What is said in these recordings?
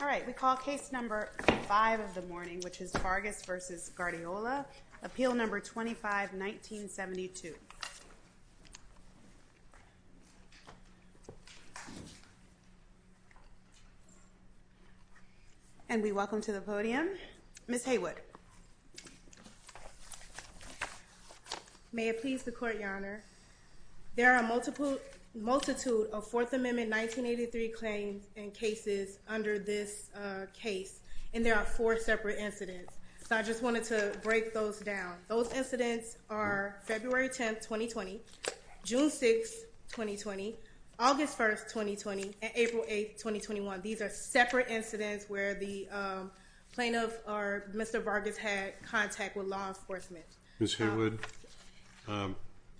All right, we call case number five of the morning, which is Vargas v. Guardiola, appeal number 25-1972. And we welcome to the podium Ms. Haywood. May it please the court your honor. There are a multitude of Fourth Amendment 1983 claims and cases under this case, and there are four separate incidents. So I just wanted to break those down. Those incidents are February 10, 2020, June 6, 2020, August 1, 2020, and April 8, 2021. These are separate incidents where the plaintiff or Mr. Vargas had contact with law enforcement. Ms. Haywood,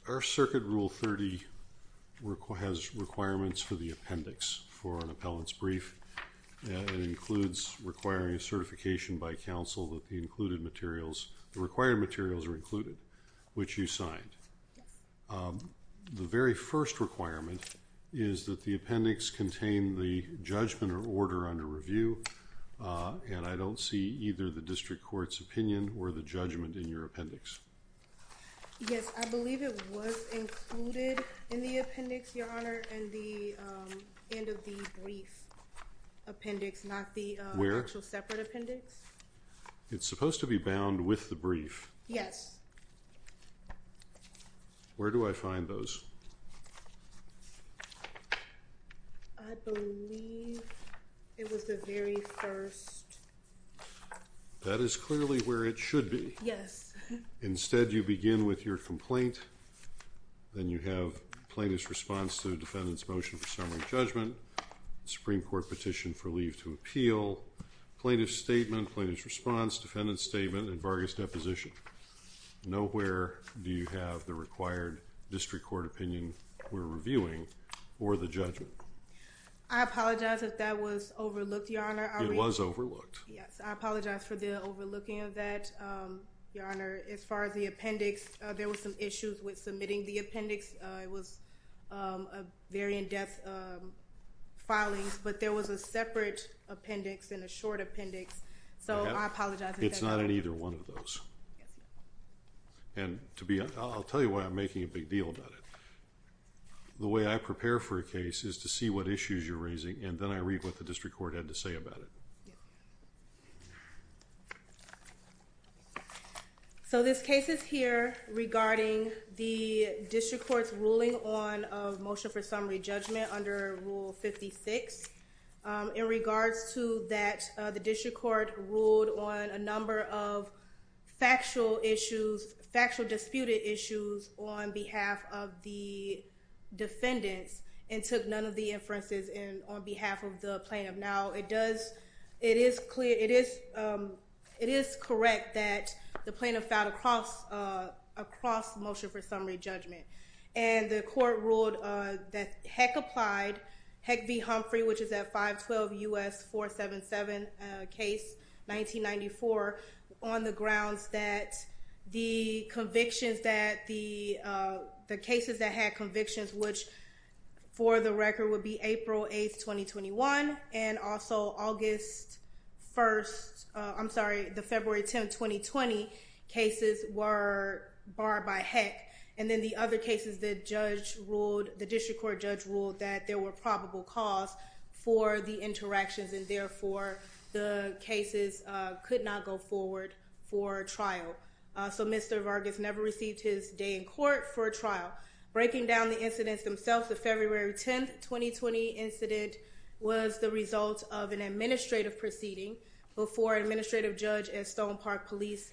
our circuit rule 30 has requirements for the appendix for an appellant's brief. It includes requiring a certification by counsel that the included materials, the required materials are included, which you signed. The very first requirement is that the appendix contain the judgment or order under review, and I don't see either the district court's opinion or the judgment in your appendix. Yes, I believe it was included in the appendix, your honor, and the end of the brief appendix, not the actual separate appendix. It's supposed to be bound with the brief. Yes. Where do I find those? I believe it was the very first. That is clearly where it should be. Yes. Instead you begin with your complaint, then you have plaintiff's response to defendant's motion for summary judgment, Supreme Court petition for leave to appeal, plaintiff's statement, plaintiff's response, defendant's statement, and Vargas' deposition. Nowhere do you have the required district court opinion we're reviewing or the judgment. I apologize if that was overlooked, your honor. It was overlooked. Yes, I apologize for the overlooking of that, your honor. As far as the appendix, there was some issues with submitting the appendix. It was a very in-depth filings, but there was a separate appendix and a short appendix, so I apologize. It's not in either one of those, and to be honest, I'll tell you why I'm making a big deal about it. The way I prepare for a case is to see what issues you're raising, and then I read what the district court had to say about it. So this case is here regarding the district court's ruling on a motion for summary judgment under Rule 56. In regards to that, the district court ruled on a number of factual disputed issues on behalf of the defendants and took none of the inferences on behalf of the plaintiff. Now, it is correct that the plaintiff filed a cross motion for summary judgment, and the court ruled that Heck applied, Heck v. Humphrey, which is that 512 U.S. 477 case, 1994, on the grounds that the convictions that the cases that had convictions, which for the record would be April 8th, 2021, and also August 1st, I'm sorry, the February 10th, 2020 cases were barred by Heck, and then the other cases the judge ruled, the district court judge ruled that there were probable cause for the interactions, and therefore, the cases could not go forward for trial. So Mr. Vargas never received his day in court for trial. Breaking down the incidents themselves, the February 10th, 2020 incident was the result of an administrative proceeding before an administrative judge at Stone Park Police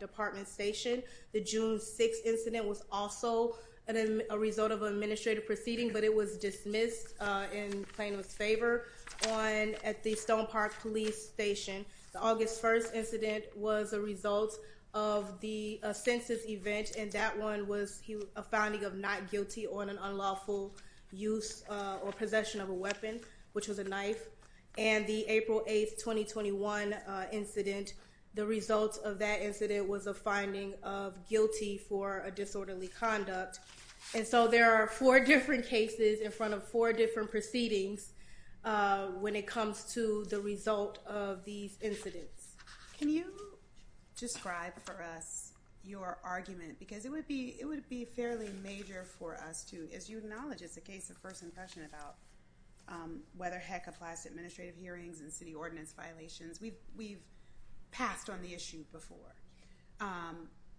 Department Station. The June 6th incident was also a result of an administrative proceeding, but it was dismissed in plaintiff's favor at the Stone Park Police Station. The August 1st incident was a result of the census event, and that one was a finding of not guilty on an unlawful use or possession of a weapon, which was a knife. And the April 8th, 2021 incident, the result of that incident was a finding of guilty for a disorderly conduct. And so there are four different cases in front of four different proceedings when it comes to the result of these incidents. Can you describe for us your argument? Because it would be fairly major for us to, as you acknowledge, it's a case of first impression about whether Heck applies to administrative hearings and city ordinance violations. We've passed on the issue before.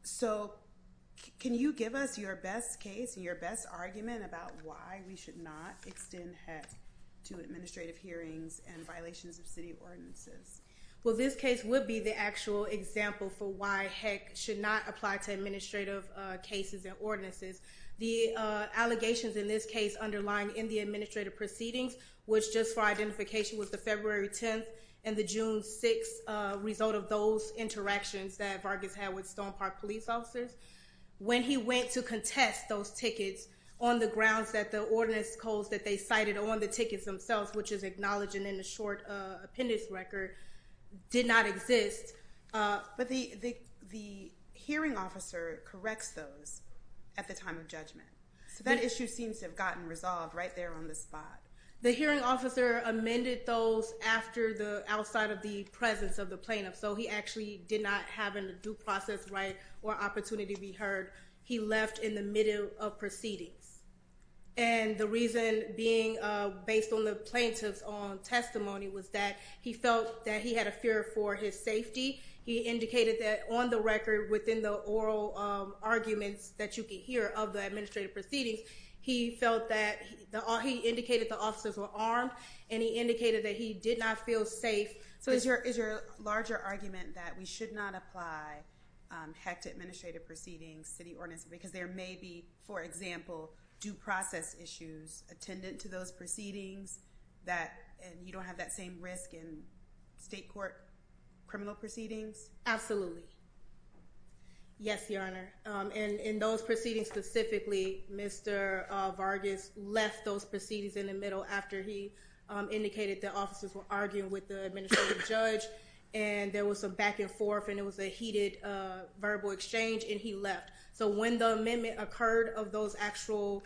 So can you give us your best case, your best argument about why we should not extend Heck to administrative hearings and violations of city ordinances? Well, this case would be the actual example for why Heck should not apply to administrative cases and ordinances. The allegations in this case underlying in the administrative proceedings, which just for identification, was the February 10th and the June 6th result of those interactions that Vargas had with Stone Park police officers. When he went to contest those tickets on the grounds that the ordinance codes that they cited on the tickets themselves, which is acknowledged in the short appendix record, did not exist. But the hearing officer corrects those at the time of judgment. So that issue seems to have gotten resolved right there on the spot. The hearing officer amended those after the outside of the presence of the plaintiff. So he actually did not have a due process right or opportunity to be heard. He left in the middle of proceedings. And the reason being based on the plaintiff's own testimony was that he felt that he had a fear for his safety. He indicated that on the record within the oral arguments that you can hear of the administrative proceedings, he felt that he indicated the officers were armed and he indicated that he did not feel safe. So is your is your larger argument that we should not apply hectic administrative proceedings to the ordinance because there may be, for example, due process issues attendant to those proceedings that you don't have that same risk in state court criminal proceedings? Absolutely. Yes, Your Honor. And in those proceedings specifically, Mr. Vargas left those proceedings in the middle after he indicated the officers were arguing with the judge and there was a back and forth and it was a heated verbal exchange and he left. So when the amendment occurred of those actual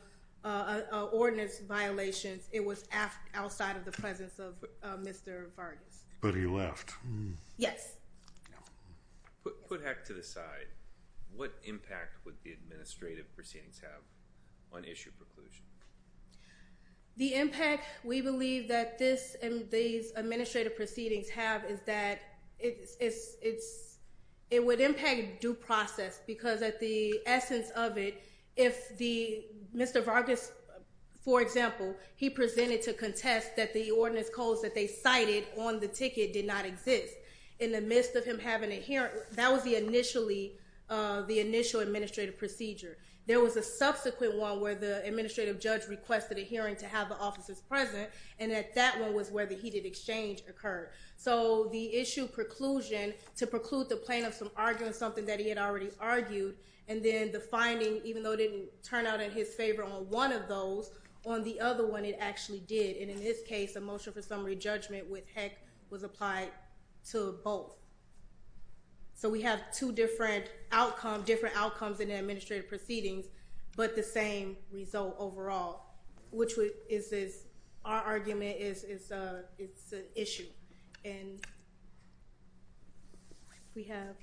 ordinance violations, it was outside of the presence of Mr. Vargas. But he left. Yes. Put heck to the side. What impact would the administrative proceedings have on issue preclusion? The impact we believe that this and these administrative proceedings have is that it's it's it would impact due process because at the essence of it, if the Mr. Vargas, for example, he presented to contest that the ordinance calls that they cited on the ticket did not exist. In the midst of him having a hearing, that was the initially the initial administrative procedure. There was a subsequent one where the administrative judge requested a hearing to have the offices present. And at that one was where the heated exchange occurred. So the issue preclusion to preclude the plaintiff from arguing something that he had already argued and then the finding, even though it didn't turn out in his favor on one of those on the other one, it actually did. And in this case, a motion for summary judgment with heck was applied to both. So we have two different outcome, different outcomes in the administrative proceedings, but the same result overall, which is this. Our argument is it's a it's an issue. And we have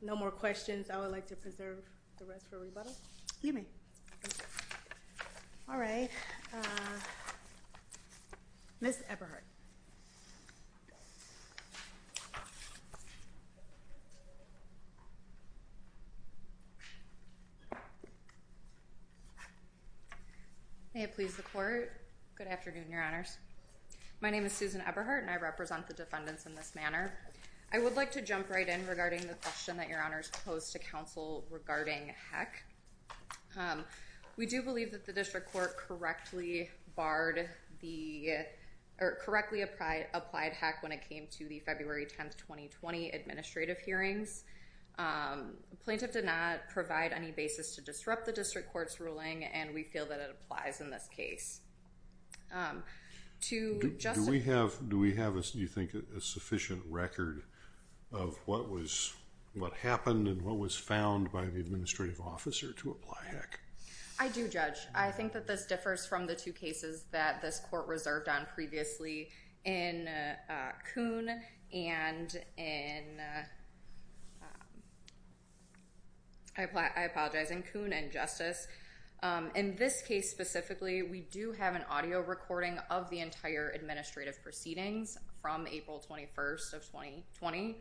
no more questions. I would like to preserve the rest for rebuttal. All right. Miss Everhart. May it please the court. Good afternoon, your honors. My name is Susan Everhart and I represent the defendants in this manner. I would like to jump right in regarding the question that your honors posed to counsel regarding heck. We do believe that the district court correctly barred the or correctly applied applied heck when it came to the February 10th, 2020 administrative hearings. Plaintiff did not provide any basis to disrupt the district court's ruling, and we feel that it applies in this case. Do we have do we have, do you think, a sufficient record of what was what happened and what was found by the administrative officer to apply heck? I do judge. I think that this differs from the two cases that this court reserved on previously in Coon and in. I apologize. In Coon and Justice. In this case, specifically, we do have an audio recording of the entire administrative proceedings from April 21st of 2020,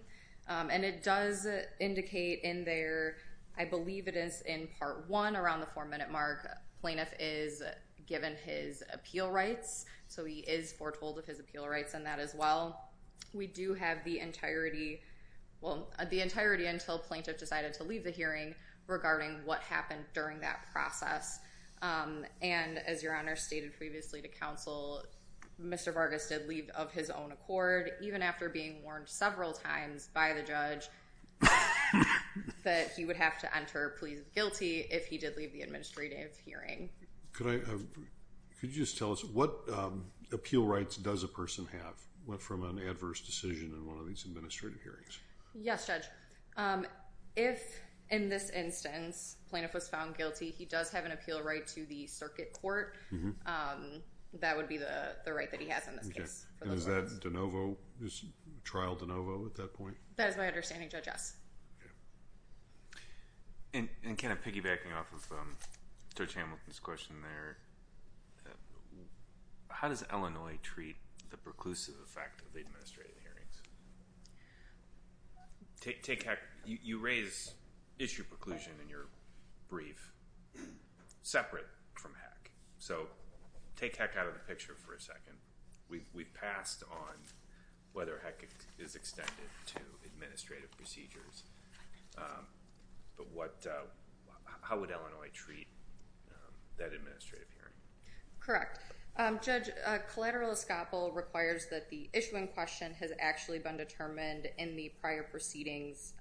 and it does indicate in there. I believe it is in part 1 around the 4 minute mark plaintiff is given his appeal rights, so he is foretold of his appeal rights and that as well. We do have the entirety. Well, the entirety until plaintiff decided to leave the hearing regarding what happened during that process. And as your honor stated previously to counsel, Mr Vargas did leave of his own accord, even after being warned several times by the judge that he would have to enter. Please guilty if he did leave the administrative hearing. Could you just tell us what appeal rights does a person have went from an adverse decision in one of these administrative hearings? Yes, judge. If in this instance plaintiff was found guilty, he does have an appeal right to the circuit court. That would be the right that he has in this case. Is that de novo? Is trial de novo at that point? That is my understanding, Judge S. And kind of piggybacking off of Judge Hamilton's question there, how does Illinois treat the preclusive effect of the administrative hearings? Take HECC. You raise issue preclusion in your brief separate from HECC, so take HECC out of the picture for a second. We've passed on whether HECC is extended to administrative procedures, but how would Illinois treat that administrative hearing? Correct. Judge, collateral escapal requires that the issuing question has actually been determined in the prior proceedings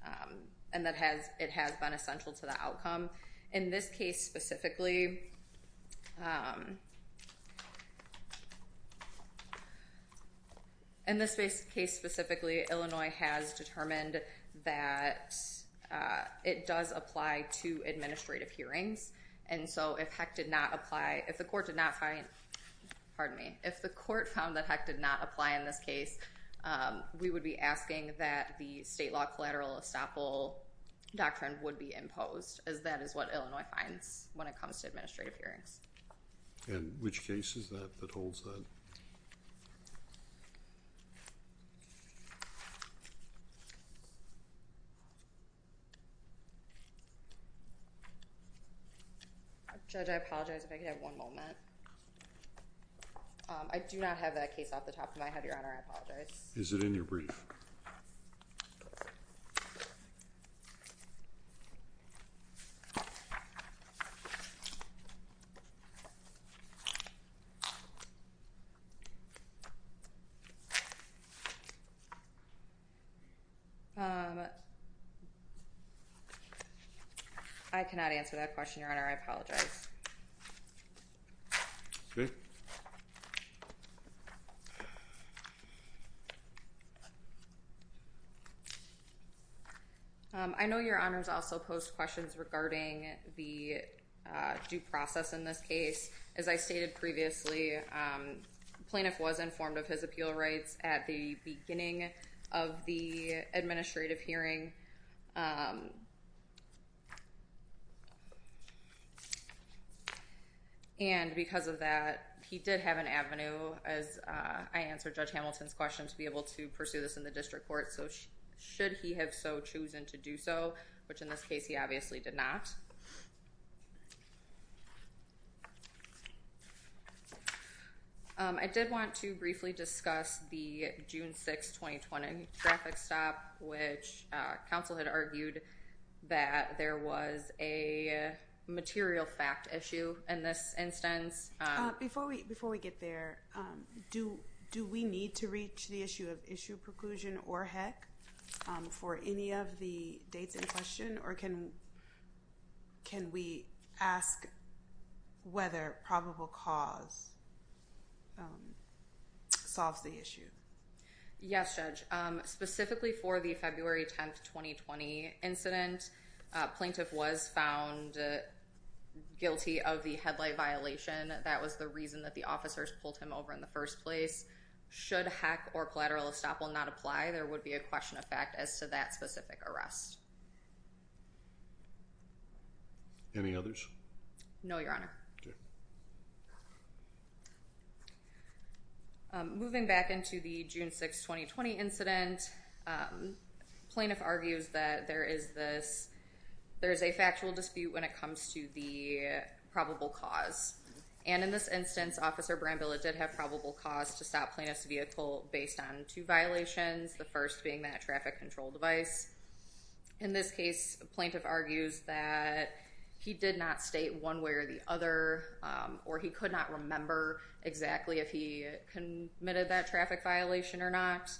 and that it has been essential to the outcome. In this case specifically, Illinois has determined that it does apply to administrative hearings. And so if HECC did not apply, if the court did not find, pardon me, if the court found that HECC did not apply in this case, we would be asking that the state law collateral escapal doctrine would be imposed, as that is what Illinois finds when it comes to administrative hearings. And which case is that that holds that? Judge, I apologize if I could have one moment. I do not have that case off the top of my head, Your Honor. I apologize. Is it in your brief? I cannot answer that question, Your Honor. I apologize. Okay. I know Your Honors also posed questions regarding the due process in this case. As I stated previously, the plaintiff was informed of his appeal rights at the beginning of the administrative hearing. And because of that, he did have an avenue, as I answered Judge Hamilton's question, to be able to pursue this in the district court. So should he have so chosen to do so, which in this case he obviously did not. I did want to briefly discuss the June 6, 2020 traffic stop, which counsel had argued that there was a material fact issue in this instance. Before we get there, do we need to reach the issue of issue preclusion or HEC for any of the dates in question? Or can we ask whether probable cause solves the issue? Yes, Judge. Specifically for the February 10, 2020 incident, plaintiff was found guilty of the headlight violation. That was the reason that the officers pulled him over in the first place. Should HEC or collateral estoppel not apply, there would be a question of fact as to that specific arrest. Any others? No, Your Honor. Okay. Moving back into the June 6, 2020 incident, plaintiff argues that there is a factual dispute when it comes to the probable cause. And in this instance, Officer Brambilla did have probable cause to stop plaintiff's vehicle based on two violations, the first being that traffic control device. In this case, plaintiff argues that he did not state one way or the other, or he could not remember exactly if he committed that traffic violation or not.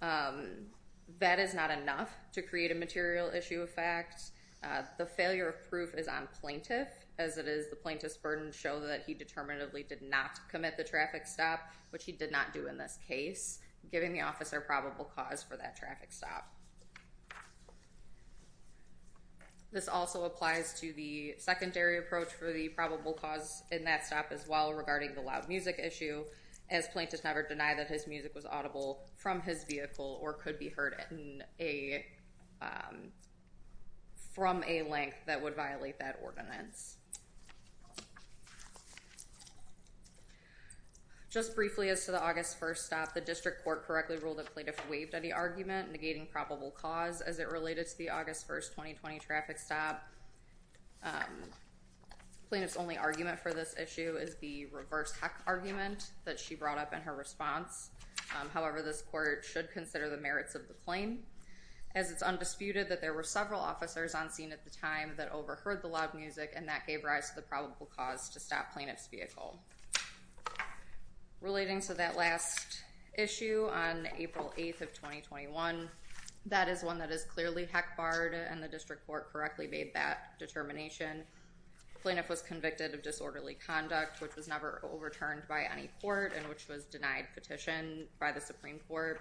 That is not enough to create a material issue of fact. The failure of proof is on plaintiff, as it is the plaintiff's burden to show that he determinatively did not commit the traffic stop, which he did not do in this case, giving the officer probable cause for that traffic stop. This also applies to the secondary approach for the probable cause in that stop as well regarding the loud music issue, as plaintiffs never deny that his music was audible from his vehicle or could be heard from a link that would violate that ordinance. Just briefly, as to the August 1 stop, the district court correctly ruled that plaintiff waived any argument negating probable cause as it related to the August 1, 2020 traffic stop. Plaintiff's only argument for this issue is the reverse heck argument that she brought up in her response. However, this court should consider the merits of the claim as it's undisputed that there were several officers on scene at the time that overheard the loud music and that gave rise to the probable cause to stop plaintiff's vehicle. Relating to that last issue on April 8th of 2021, that is one that is clearly heck barred and the district court correctly made that determination. Plaintiff was convicted of disorderly conduct, which was never overturned by any court and which was denied petition by the Supreme Court.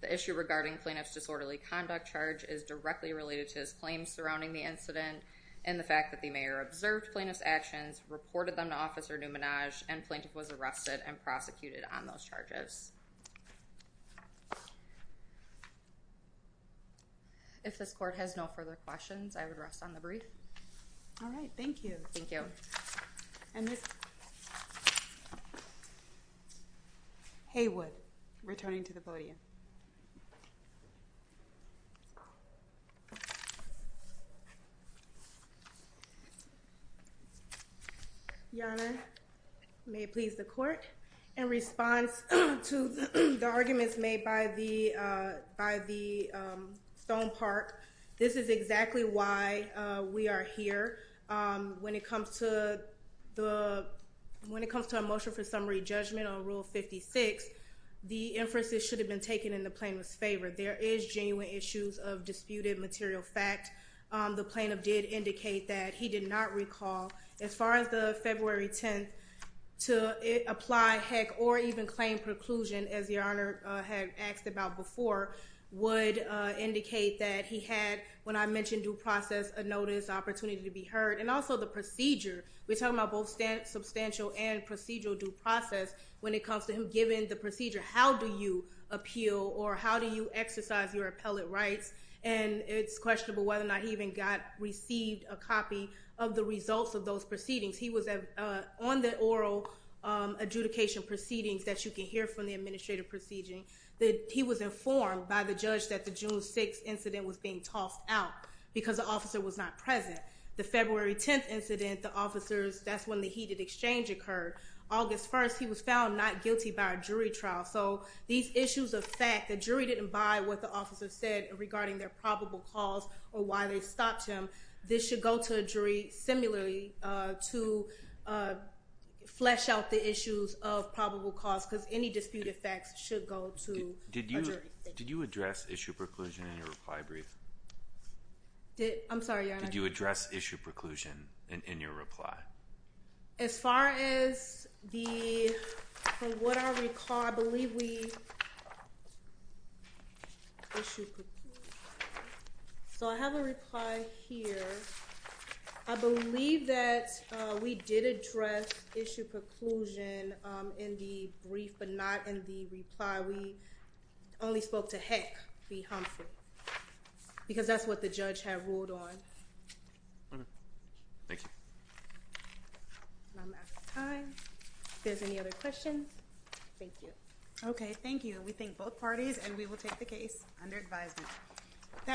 The issue regarding plaintiff's disorderly conduct charge is directly related to his claims surrounding the incident and the fact that the mayor observed plaintiff's actions, reported them to Officer Numanaj, and plaintiff was arrested and prosecuted on those charges. If this court has no further questions, I would rest on the brief. All right, thank you. Thank you. And Ms. Haywood, returning to the podium. Your Honor, may it please the court, in response to the arguments made by the Stone Park, this is exactly why we are here. When it comes to a motion for summary judgment on Rule 56, the inferences should have been taken in the plaintiff's favor. There is genuine issues of disputed material fact. The plaintiff did indicate that he did not recall. As far as the February 10th, to apply heck or even claim preclusion, as Your Honor had asked about before, would indicate that he had, when I mentioned due process, a notice, opportunity to be heard. And also the procedure. We're talking about both substantial and procedural due process when it comes to him giving the procedure. How do you appeal or how do you exercise your appellate rights? And it's questionable whether or not he even got, received a copy of the results of those proceedings. He was on the oral adjudication proceedings that you can hear from the administrative proceedings. He was informed by the judge that the June 6th incident was being tossed out because the officer was not present. The February 10th incident, the officers, that's when the heated exchange occurred. August 1st, he was found not guilty by a jury trial. So these issues of fact, the jury didn't buy what the officer said regarding their probable cause or why they stopped him. This should go to a jury similarly to flesh out the issues of probable cause because any disputed facts should go to a jury. Did you address issue preclusion in your reply brief? I'm sorry, Your Honor. Did you address issue preclusion in your reply? As far as the, from what I recall, I believe we, issue preclusion. So I have a reply here. I believe that we did address issue preclusion in the brief but not in the reply. That's why we only spoke to Heck v. Humphrey because that's what the judge had ruled on. Thank you. I'm out of time. If there's any other questions, thank you. Okay, thank you. We thank both parties and we will take the case under advisement.